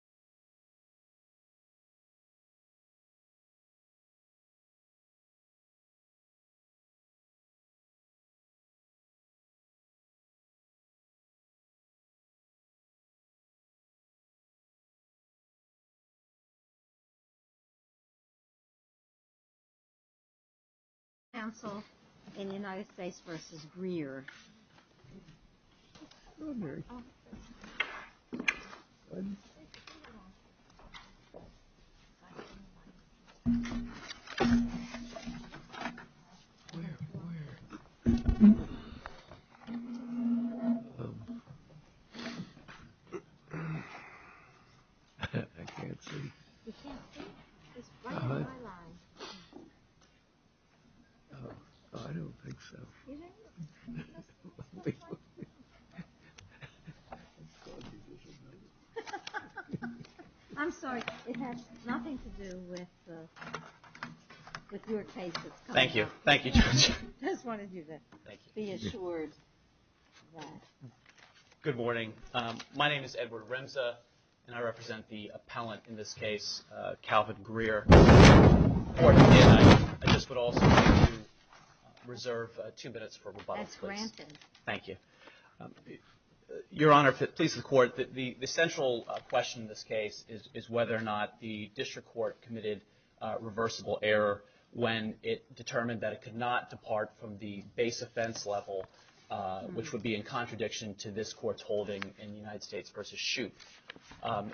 Isacharia Noah also a record slender, 4-pointer gun-type opponent in the United States on four I'm sorry, it has nothing to do with your case. Thank you. Thank you, Judge. I just wanted you to be assured of that. Good morning. My name is Edward Rimza, and I represent the appellant in this case, Calvin Greer. I just would also like to reserve two minutes for rebuttals, please. That's granted. Thank you. Your Honor, please, the court. The central question in this case is whether or not the district court committed a reversible error when it determined that it could not depart from the base offense level, which would be in contradiction to this court's holding in the United States versus Shoup. I'm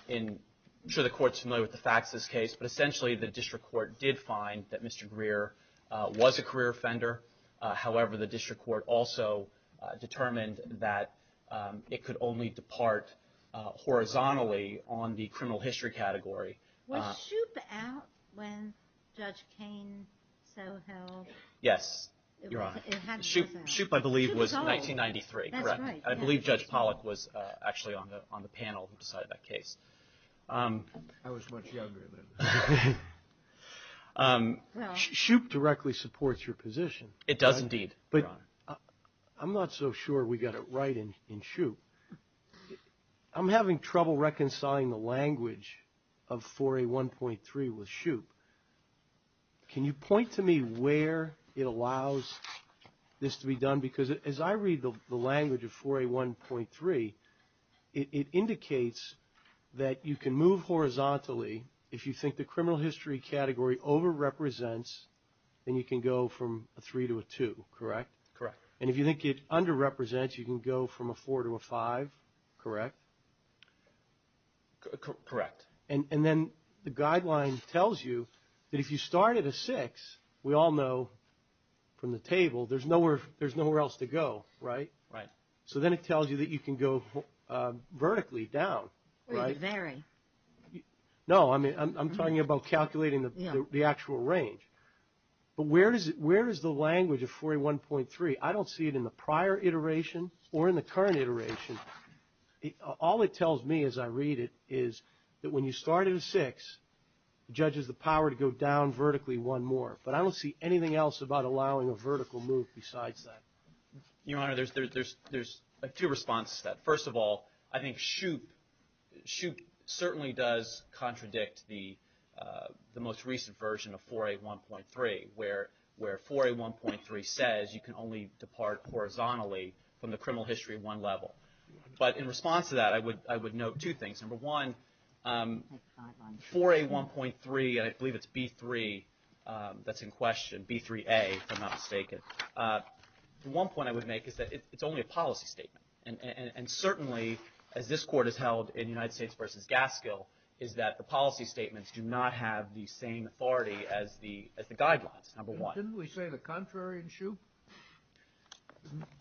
sure the court's familiar with the facts of this case, but essentially the district court did find that Mr. Greer was a career offender. However, the district court also determined that it could only depart horizontally on the criminal history category. Was Shoup out when Judge Kane so held? Yes, Your Honor. Shoup, I believe, was 1993, correct? That's right. I believe Judge Pollack was actually on the panel who decided that case. I was much younger then. Shoup directly supports your position. It does indeed, Your Honor. I'm not so sure we got it right in Shoup. I'm having trouble reconciling the language of 4A1.3 with Shoup. Can you point to me where it allows this to be done? Because as I read the language of 4A1.3, it indicates that you can move horizontally. Basically, if you think the criminal history category over-represents, then you can go from a 3 to a 2, correct? Correct. And if you think it under-represents, you can go from a 4 to a 5, correct? Correct. And then the guideline tells you that if you start at a 6, we all know from the table, there's nowhere else to go, right? Right. So then it tells you that you can go vertically down, right? No, I'm talking about calculating the actual range. But where is the language of 4A1.3? I don't see it in the prior iteration or in the current iteration. All it tells me as I read it is that when you start at a 6, the judge has the power to go down vertically one more. But I don't see anything else about allowing a vertical move besides that. Your Honor, there's two responses to that. First of all, I think Shoup certainly does contradict the most recent version of 4A1.3, where 4A1.3 says you can only depart horizontally from the criminal history at one level. But in response to that, I would note two things. Number one, 4A1.3, and I believe it's B3 that's in question, B3A if I'm not mistaken. The one point I would make is that it's only a policy statement. And certainly, as this Court has held in United States v. Gaskill, is that the policy statements do not have the same authority as the guidelines, number one. Didn't we say the contrary in Shoup?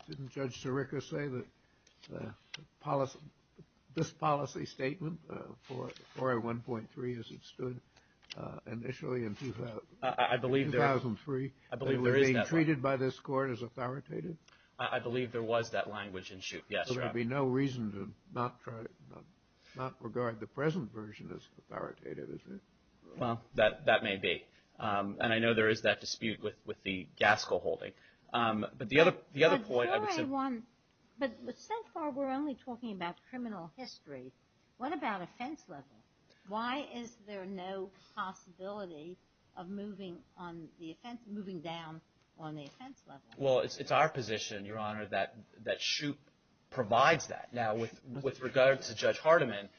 Didn't Judge Sirica say that this policy statement, 4A1.3 as it stood initially in 2003, that it was being treated by this Court as authoritative? I believe there was that language in Shoup, yes, Your Honor. So there'd be no reason to not regard the present version as authoritative, is there? Well, that may be. And I know there is that dispute with the Gaskill holding. But the other point I would say— But 4A1, but so far we're only talking about criminal history. What about offense level? Why is there no possibility of moving down on the offense level? Well, it's our position, Your Honor, that Shoup provides that. Now, with regard to Judge Hardiman,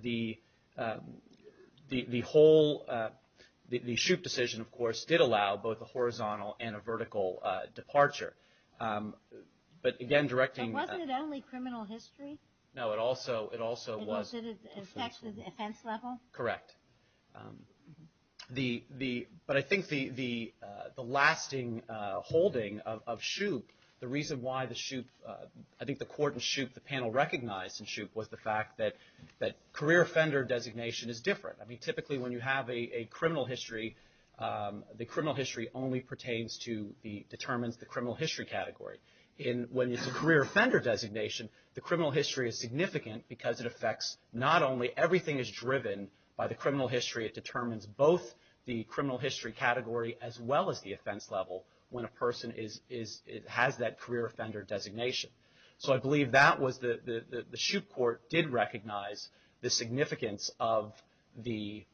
the whole— the Shoup decision, of course, did allow both a horizontal and a vertical departure. But again, directing— But wasn't it only criminal history? No, it also was— Oh, did it affect the offense level? Correct. But I think the lasting holding of Shoup, the reason why the Shoup— I think the Court in Shoup, the panel recognized in Shoup, was the fact that career offender designation is different. I mean, typically when you have a criminal history, the criminal history only pertains to the— determines the criminal history category. When it's a career offender designation, the criminal history is significant because it affects not only— everything is driven by the criminal history. It determines both the criminal history category as well as the offense level when a person has that career offender designation. So I believe that was the— the Shoup Court did recognize the significance of the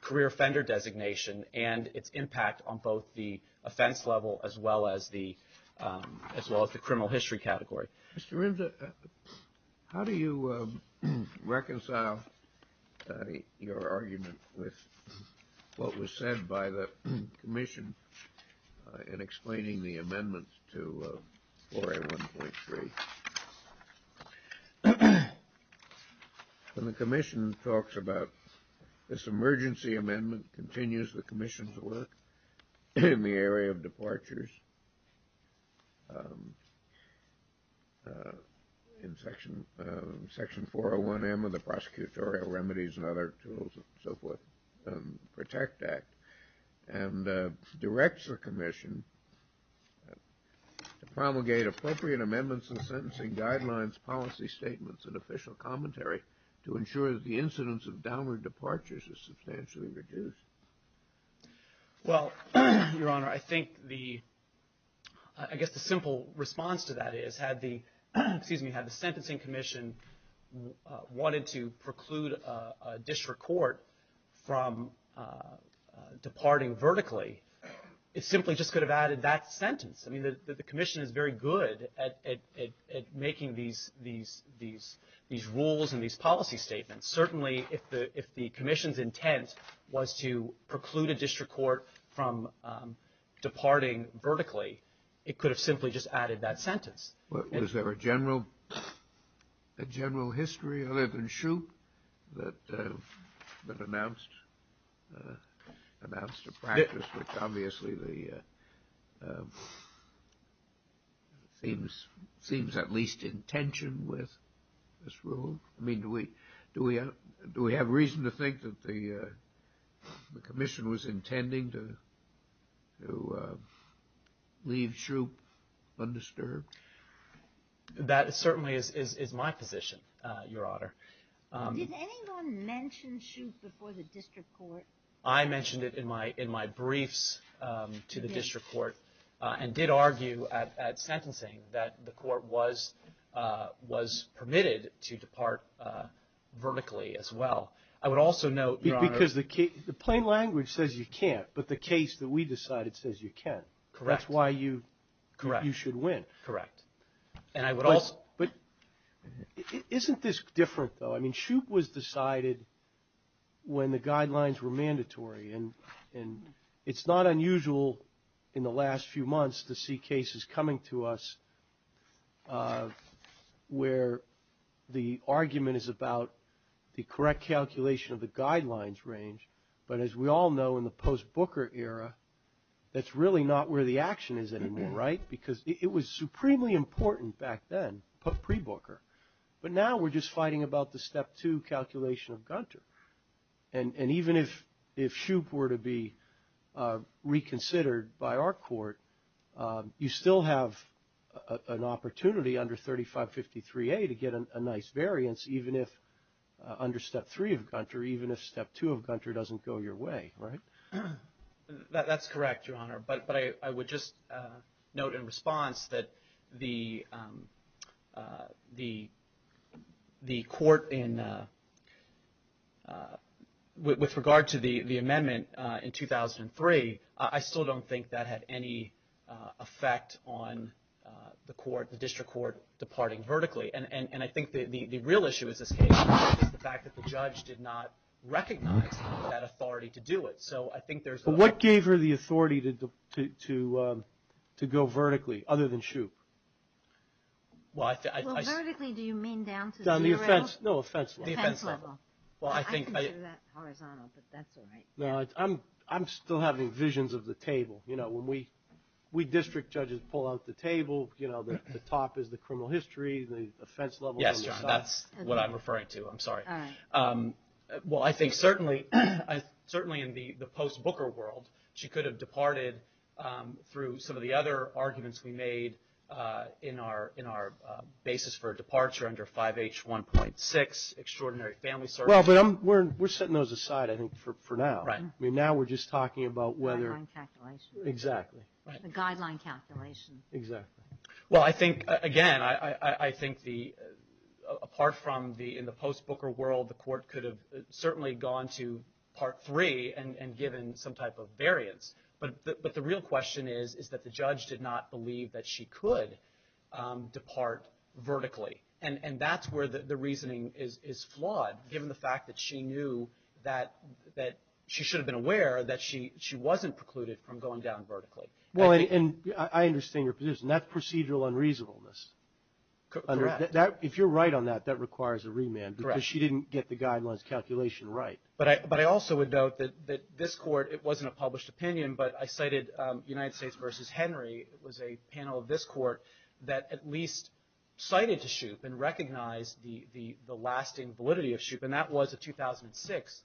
career offender designation and its impact on both the offense level as well as the criminal history category. Mr. Rimza, how do you reconcile your argument with what was said by the Commission in explaining the amendments to 4A1.3? Well, the Commission talks about this emergency amendment, continues the Commission's work in the area of departures in Section 401M of the Prosecutorial Remedies and Other Tools and so forth, Protect Act, and directs the Commission to promulgate appropriate amendments and sentencing guidelines, policy statements, and official commentary to ensure that the incidence of downward departures is substantially reduced. Well, Your Honor, I think the— I guess the simple response to that is had the— excuse me, had the Sentencing Commission wanted to preclude a district court from departing vertically, it simply just could have added that sentence. I mean, the Commission is very good at making these rules and these policy statements. Certainly, if the Commission's intent was to preclude a district court from departing vertically, it could have simply just added that sentence. Was there a general history other than Shoup that announced a practice which obviously seems at least in tension with this rule? I mean, do we have reason to think that the Commission was intending to leave Shoup undisturbed? That certainly is my position, Your Honor. Did anyone mention Shoup before the district court? I mentioned it in my briefs to the district court and did argue at sentencing that the court was permitted to depart vertically as well. I would also note, Your Honor— Because the plain language says you can't, but the case that we decided says you can. Correct. That's why you should win. Correct. And I would also— But isn't this different, though? I mean, Shoup was decided when the guidelines were mandatory, and it's not unusual in the last few months to see cases coming to us where the argument is about the correct calculation of the guidelines range, but as we all know in the post-Booker era, that's really not where the action is anymore, right? Because it was supremely important back then, pre-Booker, but now we're just fighting about the step two calculation of Gunter. And even if Shoup were to be reconsidered by our court, you still have an opportunity under 3553A to get a nice variance, even if under step three of Gunter, even if step two of Gunter doesn't go your way, right? That's correct, Your Honor. But I would just note in response that the court in—with regard to the amendment in 2003, I still don't think that had any effect on the court, the district court, departing vertically. And I think the real issue in this case is the fact that the judge did not recognize that authority to do it. So I think there's— But what gave her the authority to go vertically other than Shoup? Well, vertically do you mean down to zero? No, offense level. Offense level. Well, I think— I can do that horizontal, but that's all right. No, I'm still having visions of the table. You know, when we district judges pull out the table, you know, the top is the criminal history, the offense level— Yes, Your Honor, that's what I'm referring to. I'm sorry. All right. Well, I think certainly in the post-Booker world, she could have departed through some of the other arguments we made in our basis for a departure under 5H1.6, extraordinary family circumstances. Well, but we're setting those aside, I think, for now. Right. I mean, now we're just talking about whether— Guideline calculations. Exactly. The guideline calculations. Exactly. Well, I think, again, I think the—apart from the—in the post-Booker world, the Court could have certainly gone to Part 3 and given some type of variance. But the real question is, is that the judge did not believe that she could depart vertically. And that's where the reasoning is flawed, given the fact that she knew that she should have been aware that she wasn't precluded from going down vertically. Well, and I understand your position. That's procedural unreasonableness. Correct. If you're right on that, that requires a remand. Correct. Because she didn't get the guidelines calculation right. But I also would note that this Court, it wasn't a published opinion, but I cited United States v. Henry was a panel of this Court that at least cited Shoup and recognized the lasting validity of Shoup, and that was a 2006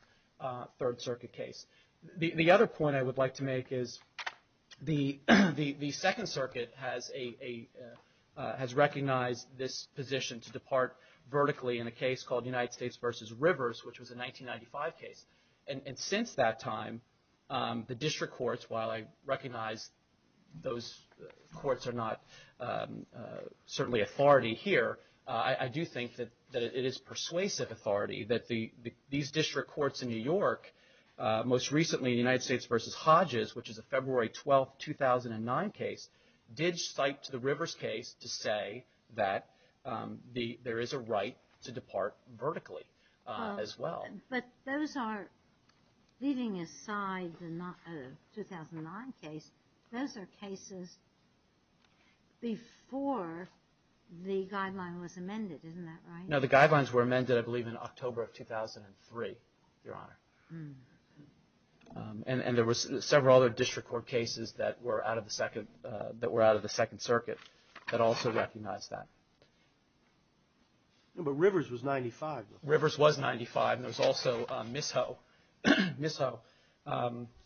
Third Circuit case. The other point I would like to make is the Second Circuit has a—has recognized this position to depart vertically in a case called United States v. Rivers, which was a 1995 case. And since that time, the district courts, while I recognize those courts are not certainly authority here, I do think that it is persuasive authority that these district courts in New York, most recently United States v. Hodges, which is a February 12, 2009 case, did cite the Rivers case to say that there is a right to depart vertically as well. But those are, leaving aside the 2009 case, those are cases before the guideline was amended. Isn't that right? No, the guidelines were amended, I believe, in October of 2003, Your Honor. And there were several other district court cases that were out of the Second Circuit that also recognized that. No, but Rivers was 95. Rivers was 95, and there was also Mishoe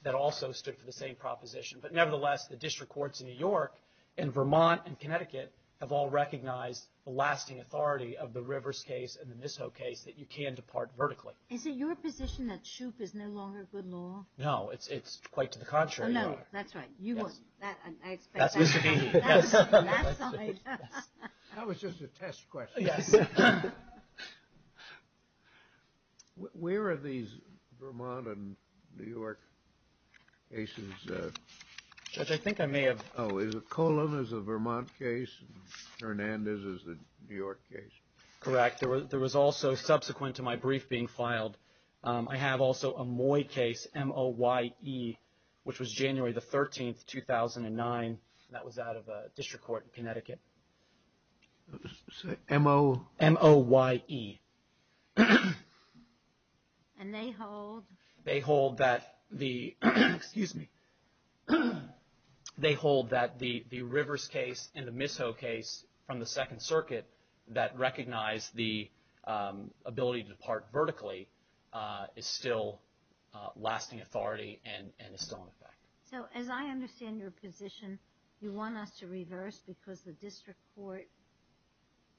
that also stood for the same proposition. But nevertheless, the district courts in New York and Vermont and Connecticut have all recognized the lasting authority of the Rivers case and the Mishoe case that you can depart vertically. Is it your position that Shoup is no longer good law? No, it's quite to the contrary, Your Honor. Oh, no, that's right. I expect that side. That was just a test question. Where are these Vermont and New York cases? Judge, I think I may have. Oh, is it Colon is a Vermont case and Hernandez is a New York case? Correct. In fact, there was also, subsequent to my brief being filed, I have also a Moye case, M-O-Y-E, which was January the 13th, 2009. That was out of a district court in Connecticut. M-O? M-O-Y-E. And they hold? They hold that the Rivers case and the Mishoe case from the Second Circuit that recognize the ability to depart vertically is still lasting authority and is still in effect. So, as I understand your position, you want us to reverse because the district court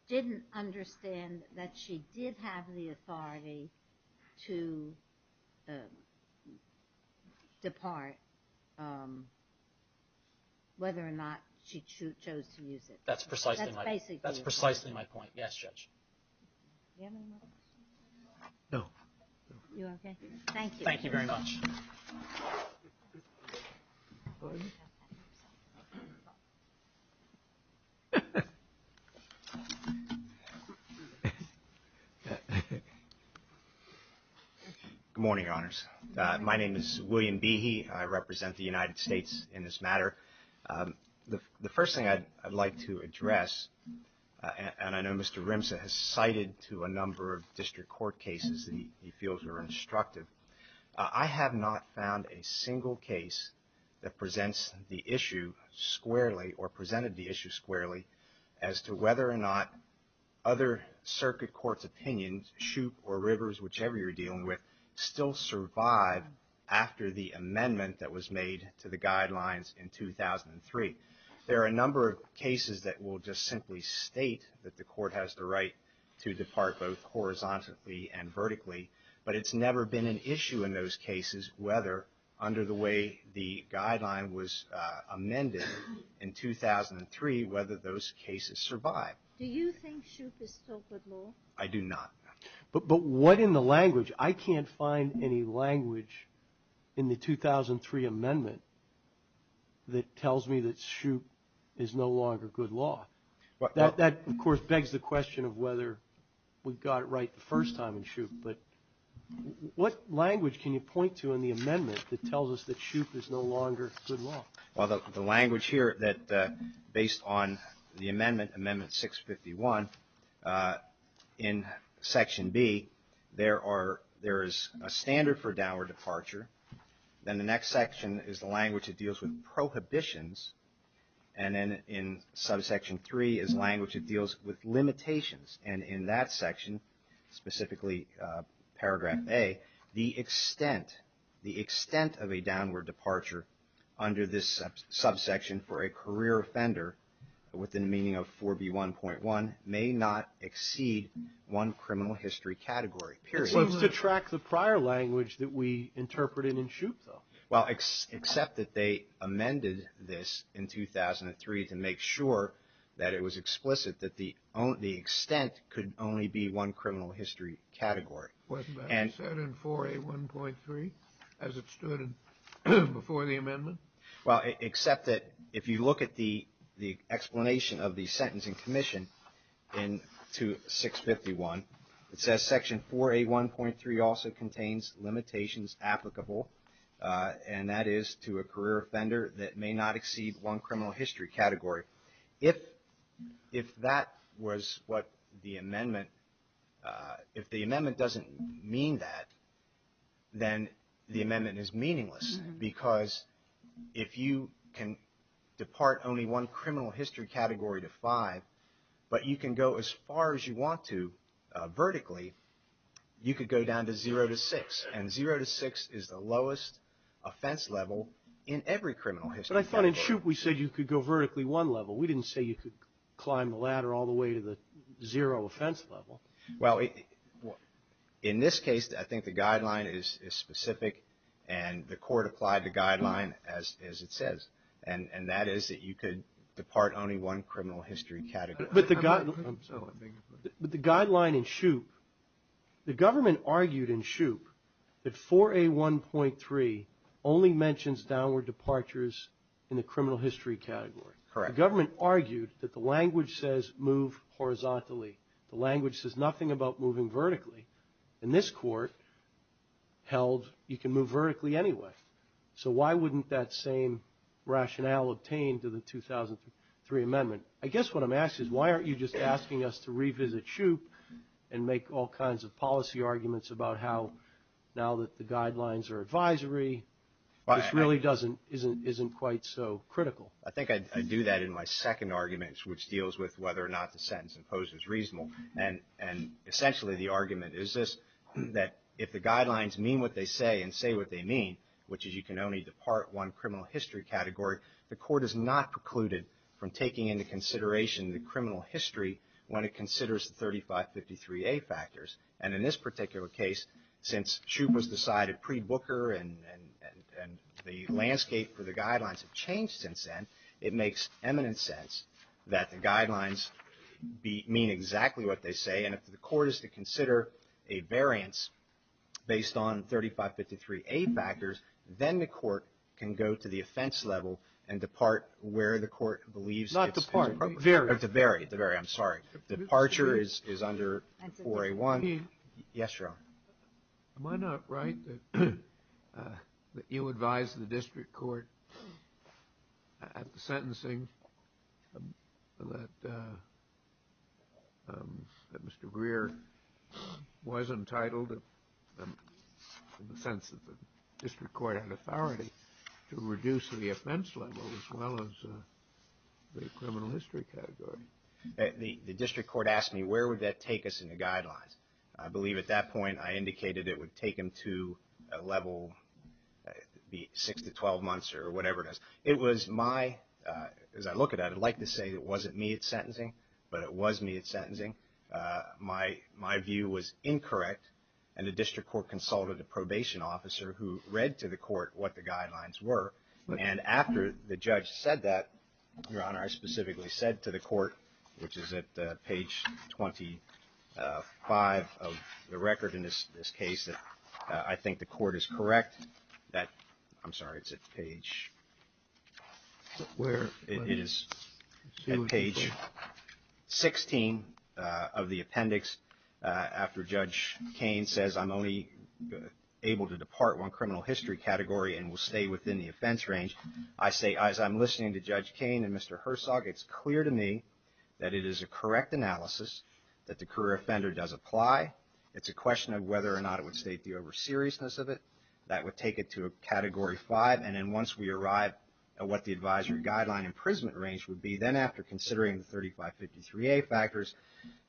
didn't understand that she did have the authority to depart, whether or not she chose to use it. That's precisely my point. That's basically my point. That's precisely my point. Yes, Judge. Do you have any more questions? No. You okay? Thank you. Thank you very much. Good morning, Your Honors. My name is William Behe. I represent the United States in this matter. The first thing I'd like to address, and I know Mr. Rimsa has cited to a number of district court cases that he feels are instructive. I have not found a single case that presents the issue squarely or presented the issue squarely as to whether or not other circuit courts' opinions, Shoup or Rivers, whichever you're dealing with, still survive after the amendment that was made to the guidelines in 2003. There are a number of cases that will just simply state that the court has the right to depart both horizontally and vertically, but it's never been an issue in those cases whether, under the way the guideline was amended in 2003, whether those cases survived. Do you think Shoup is still good law? I do not. But what in the language? I can't find any language in the 2003 amendment that tells me that Shoup is no longer good law. That, of course, begs the question of whether we got it right the first time in Shoup. But what language can you point to in the amendment that tells us that Shoup is no longer good law? Well, the language here that, based on the amendment, Amendment 651, in Section B, there is a standard for downward departure. Then the next section is the language that deals with prohibitions. And then in Subsection 3 is language that deals with limitations. And in that section, specifically Paragraph A, the extent of a downward departure under this subsection for a career offender, with a meaning of 4B1.1, may not exceed one criminal history category, period. It seems to track the prior language that we interpreted in Shoup, though. Well, except that they amended this in 2003 to make sure that it was explicit that the extent could only be one criminal history category. Wasn't that set in 4A1.3, as it stood before the amendment? Well, except that if you look at the explanation of the sentence in commission in 651, it says Section 4A1.3 also contains limitations applicable. And that is to a career offender that may not exceed one criminal history category. If that was what the amendment, if the amendment doesn't mean that, then the amendment is meaningless. Because if you can depart only one criminal history category to 5, but you can go as far as you want to vertically, you could go down to 0 to 6. And 0 to 6 is the lowest offense level in every criminal history category. But I thought in Shoup we said you could go vertically one level. We didn't say you could climb the ladder all the way to the 0 offense level. Well, in this case, I think the guideline is specific, and the court applied the guideline as it says. And that is that you could depart only one criminal history category. But the guideline in Shoup, the government argued in Shoup that 4A1.3 only mentions downward departures in the criminal history category. Correct. The government argued that the language says move horizontally. The language says nothing about moving vertically. And this court held you can move vertically anyway. So why wouldn't that same rationale obtain to the 2003 amendment? I guess what I'm asking is why aren't you just asking us to revisit Shoup and make all kinds of policy arguments about how now that the guidelines are advisory, this really isn't quite so critical. I think I do that in my second argument, which deals with whether or not the sentence imposes reasonable. And essentially the argument is this, that if the guidelines mean what they say and say what they mean, which is you can only depart one criminal history category, the court is not precluded from taking into consideration the criminal history when it considers the 3553A factors. And in this particular case, since Shoup was decided pre-Booker and the landscape for the guidelines have changed since then, it makes eminent sense that the guidelines mean exactly what they say. Again, if the court is to consider a variance based on 3553A factors, then the court can go to the offense level and depart where the court believes. Not depart, vary. To vary. I'm sorry. Departure is under 4A1. Yes, Your Honor. Am I not right that you advise the district court at the sentencing that Mr. Greer was entitled, in the sense that the district court had authority, to reduce the offense level as well as the criminal history category? The district court asked me where would that take us in the guidelines. I believe at that point I indicated it would take them to a level 6 to 12 months or whatever it is. It was my, as I look at it, I'd like to say it wasn't me at sentencing, but it was me at sentencing. My view was incorrect, and the district court consulted a probation officer who read to the court what the guidelines were. And after the judge said that, Your Honor, I specifically said to the court, which is at page 25 of the record in this case, that I think the court is correct that, I'm sorry, it's at page, it is at page 16 of the appendix, after Judge Cain says I'm only able to depart one criminal history category and will stay within the offense range, I say, as I'm listening to Judge Cain and Mr. Hersog, it's clear to me that it is a correct analysis, that the career offender does apply. It's a question of whether or not it would state the over-seriousness of it. That would take it to a category 5, and then once we arrive at what the advisory guideline imprisonment range would be, then after considering the 3553A factors,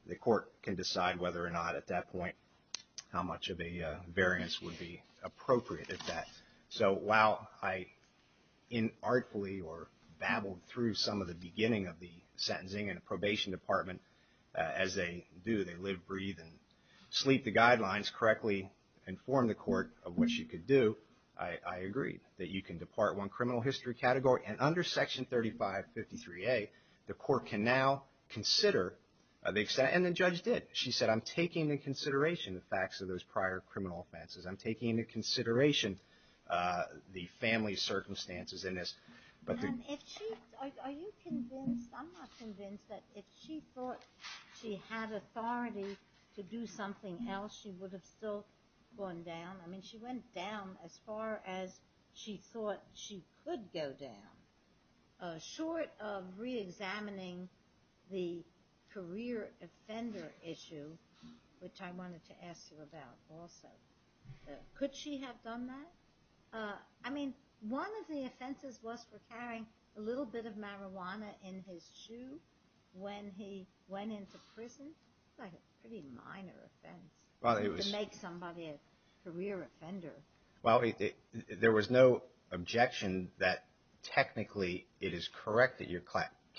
the court can decide whether or not at that point how much of a variance would be appropriate at that. So while I artfully or babbled through some of the beginning of the sentencing and probation department, as they do, they live, breathe, and sleep the guidelines correctly, inform the court of what you could do, I agree that you can depart one criminal history category, and under Section 3553A, the court can now consider, and the judge did, she said I'm taking into consideration the facts of those prior criminal offenses. I'm taking into consideration the family circumstances in this. Are you convinced, I'm not convinced, that if she thought she had authority to do something else, she would have still gone down? I mean, she went down as far as she thought she could go down, short of reexamining the career offender issue, which I wanted to ask you about also. Could she have done that? I mean, one of the offenses was for carrying a little bit of marijuana in his shoe when he went into prison. That's a pretty minor offense, to make somebody a career offender. Well, there was no objection that technically it is correct that you're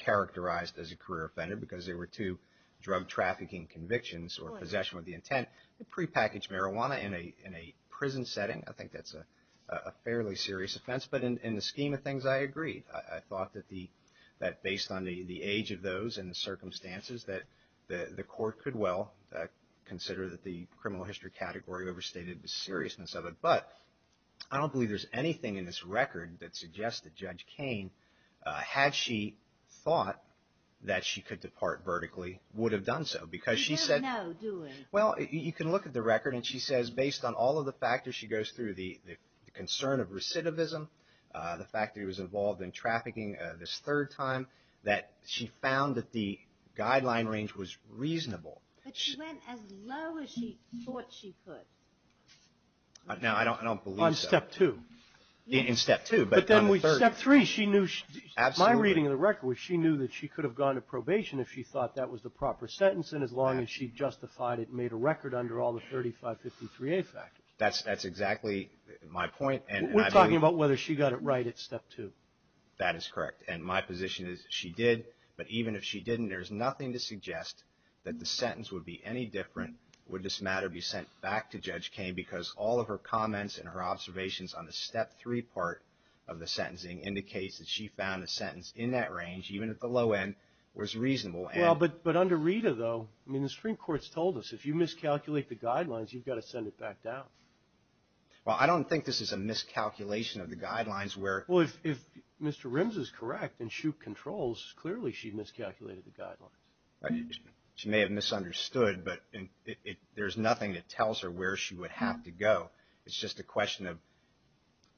characterized as a career offender, because there were two drug trafficking convictions or possession with the intent to prepackage marijuana in a prison setting. I think that's a fairly serious offense, but in the scheme of things, I agreed. I thought that based on the age of those and the circumstances, that the court could well consider that the criminal history category overstated the seriousness of it. But I don't believe there's anything in this record that suggests that Judge Kane, had she thought that she could depart vertically, would have done so. You don't know, do you? Well, you can look at the record, and she says based on all of the factors she goes through, the concern of recidivism, the fact that he was involved in trafficking this third time, that she found that the guideline range was reasonable. But she went as low as she thought she could. Now, I don't believe that. On step two. In step two, but on the third. Step three, my reading of the record was she knew that she could have gone to probation if she thought that was the proper sentence, and as long as she justified it and made a record under all the 3553A factors. That's exactly my point. We're talking about whether she got it right at step two. That is correct. And my position is she did, but even if she didn't, there's nothing to suggest that the sentence would be any different, would this matter be sent back to Judge Kane, because all of her comments and her observations on the step three part of the sentencing indicates that she found the sentence in that range, even at the low end, was reasonable. Well, but under Rita, though, I mean, the Supreme Court's told us if you miscalculate the guidelines, you've got to send it back down. Well, I don't think this is a miscalculation of the guidelines where. Well, if Mr. Rims is correct and she controls, clearly she miscalculated the guidelines. She may have misunderstood, but there's nothing that tells her where she would have to go. It's just a question of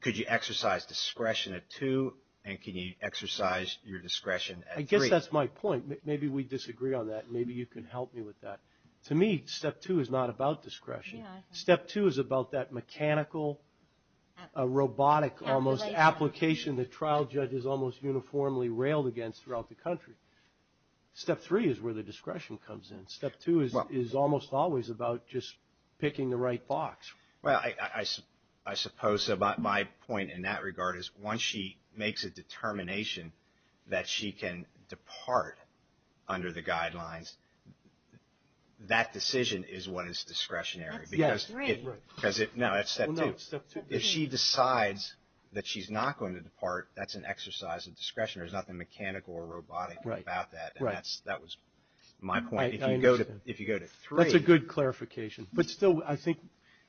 could you exercise discretion at two, and can you exercise your discretion at three. I guess that's my point. Maybe we disagree on that, and maybe you can help me with that. To me, step two is not about discretion. Step two is about that mechanical, robotic almost application that trial judges almost uniformly railed against throughout the country. Step three is where the discretion comes in. Step two is almost always about just picking the right box. Well, I suppose my point in that regard is once she makes a determination that she can depart under the guidelines, that decision is what is discretionary. Yes, three. No, that's step two. If she decides that she's not going to depart, that's an exercise of discretion. There's nothing mechanical or robotic about that. Right. That was my point. If you go to three. That's a good clarification. But still, I think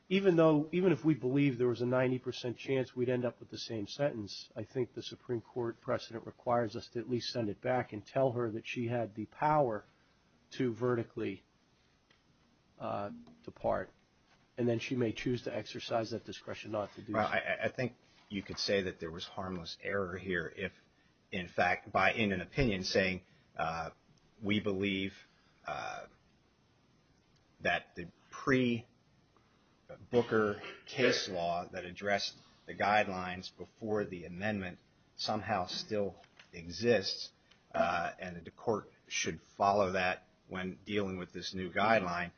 even if we believed there was a 90 percent chance we'd end up with the same sentence, I think the Supreme Court precedent requires us to at least send it back and tell her that she had the power to vertically depart. And then she may choose to exercise that discretion not to do so. I think you could say that there was harmless error here if, in fact, by in an opinion saying, we believe that the pre-Booker case law that addressed the guidelines before the amendment somehow still exists and the court should follow that when dealing with this new guideline.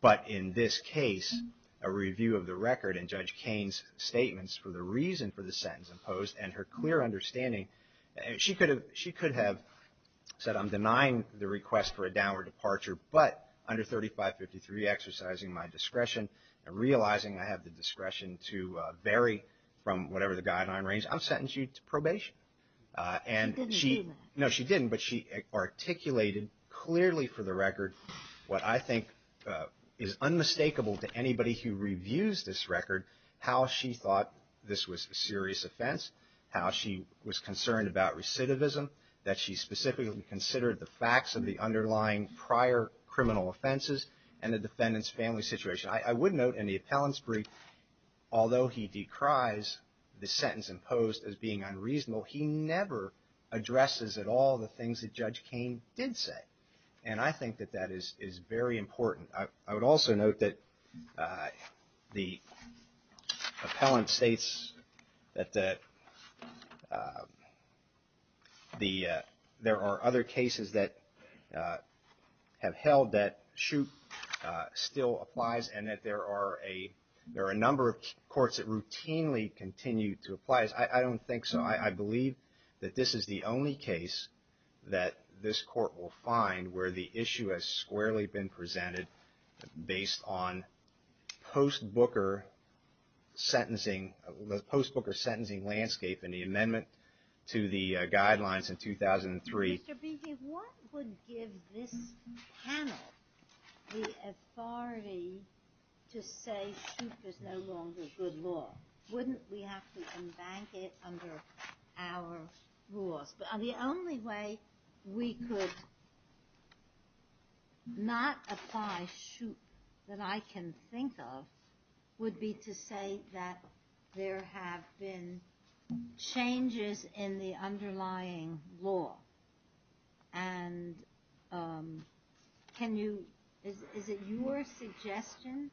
But in this case, a review of the record in Judge Kain's statements for the reason for the sentence imposed and her clear understanding, she could have said, I'm denying the request for a downward departure, but under 3553 exercising my discretion and realizing I have the discretion to vary from whatever the guideline range, I'm sentencing you to probation. She didn't do that. No, she didn't, but she articulated clearly for the record what I think is unmistakable to anybody who reviews this record, how she thought this was a serious offense, how she was concerned about recidivism, that she specifically considered the facts of the underlying prior criminal offenses and the defendant's family situation. I would note in the appellant's brief, although he decries the sentence imposed as being unreasonable, he never addresses at all the things that Judge Kain did say. And I think that that is very important. I would also note that the appellant states that there are other cases that have held that shoot still applies and that there are a number of courts that routinely continue to apply. I don't think so. I believe that this is the only case that this court will find where the issue has squarely been presented based on the post-Booker sentencing landscape and the amendment to the guidelines in 2003. Mr. Beattie, what would give this panel the authority to say shoot is no longer good law? Wouldn't we have to embank it under our rules? The only way we could not apply shoot that I can think of would be to say that there have been changes in the underlying law. And can you, is it your suggestion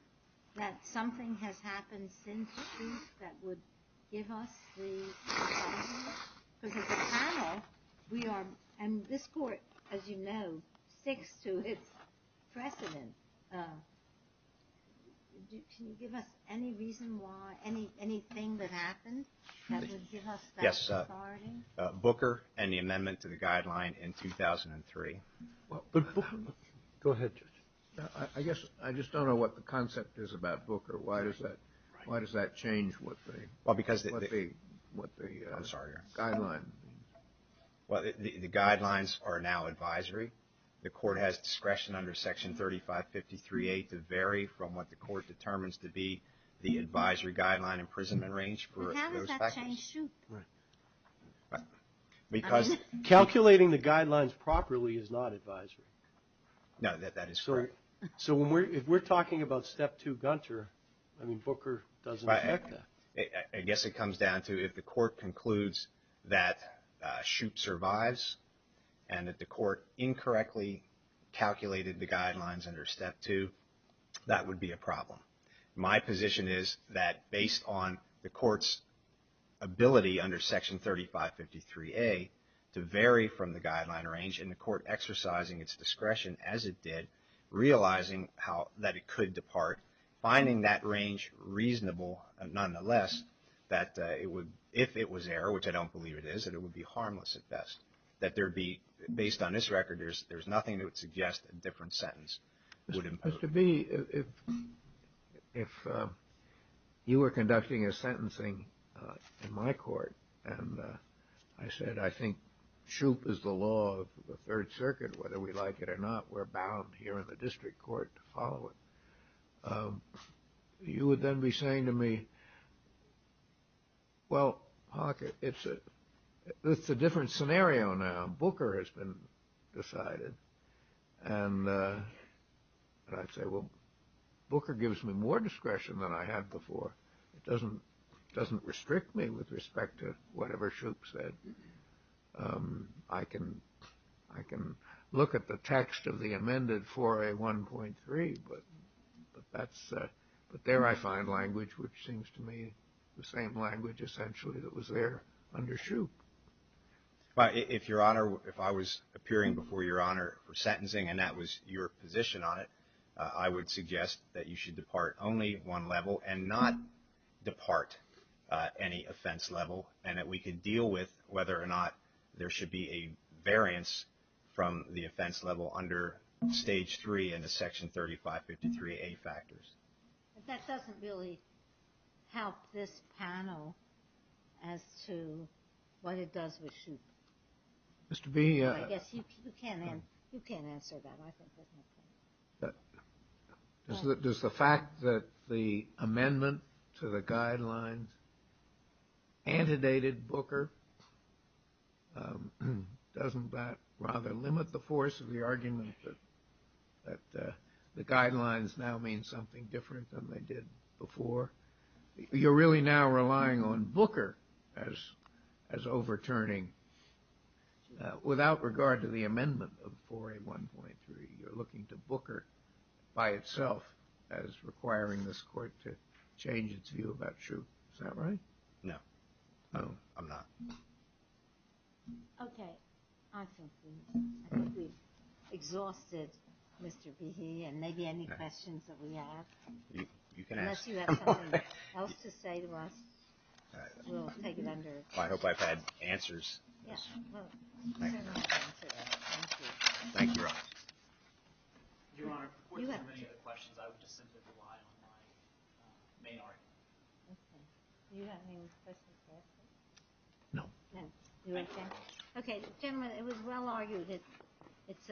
that something has happened since the shoot that would give us the panel? Because as a panel, we are, and this court, as you know, sticks to its precedent. Can you give us any reason why, anything that happened that would give us that authority? Booker and the amendment to the guideline in 2003. Go ahead, Judge. I guess I just don't know what the concept is about Booker. Why does that change what the guideline? Well, the guidelines are now advisory. The court has discretion under Section 3553A to vary from what the court determines to be the advisory guideline imprisonment range. How does that change shoot? Because calculating the guidelines properly is not advisory. No, that is correct. So if we're talking about Step 2 Gunter, I mean, Booker doesn't expect that. I guess it comes down to if the court concludes that shoot survives and that the court incorrectly calculated the guidelines under Step 2, that would be a problem. My position is that based on the court's ability under Section 3553A to vary from the guideline range and the court exercising its discretion as it did, realizing that it could depart, finding that range reasonable, nonetheless, that if it was error, which I don't believe it is, that it would be harmless at best. That there would be, based on this record, there's nothing that would suggest a different sentence would impose. Mr. B., if you were conducting a sentencing in my court and I said, I think shoot is the law of the Third Circuit, whether we like it or not, we're bound here in the district court to follow it, you would then be saying to me, well, it's a different scenario now. Booker has been decided. And I'd say, well, Booker gives me more discretion than I had before. It doesn't restrict me with respect to whatever Shoup said. I can look at the text of the amended 4A1.3, but there I find language which seems to me the same language essentially that was there under Shoup. Well, if Your Honor, if I was appearing before Your Honor for sentencing and that was your position on it, I would suggest that you should depart only one level and not depart any offense level and that we can deal with whether or not there should be a variance from the offense level under Stage 3 and the Section 3553A factors. But that doesn't really help this panel as to what it does with Shoup. Mr. B. I guess you can answer that. Does the fact that the amendment to the guidelines antedated Booker, doesn't that rather limit the force of the argument that the guidelines now mean something different than they did before? You're really now relying on Booker as overturning without regard to the amendment of 4A1.3. You're looking to Booker by itself as requiring this court to change its view about Shoup. Is that right? No. I'm not. Okay. I think we've exhausted Mr. B. and maybe any questions that we have. You can ask. Unless you have something else to say to us, we'll take it under. I hope I've had answers. Yes. Thank you. Thank you. Thank you, Your Honor. Your Honor, for the purposes of many of the questions, I would just simply rely on my main argument. Okay. Do you have any questions for us? No. No. Okay. Gentlemen, it was well argued that it's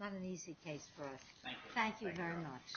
not an easy case for us. Thank you. Thank you very much.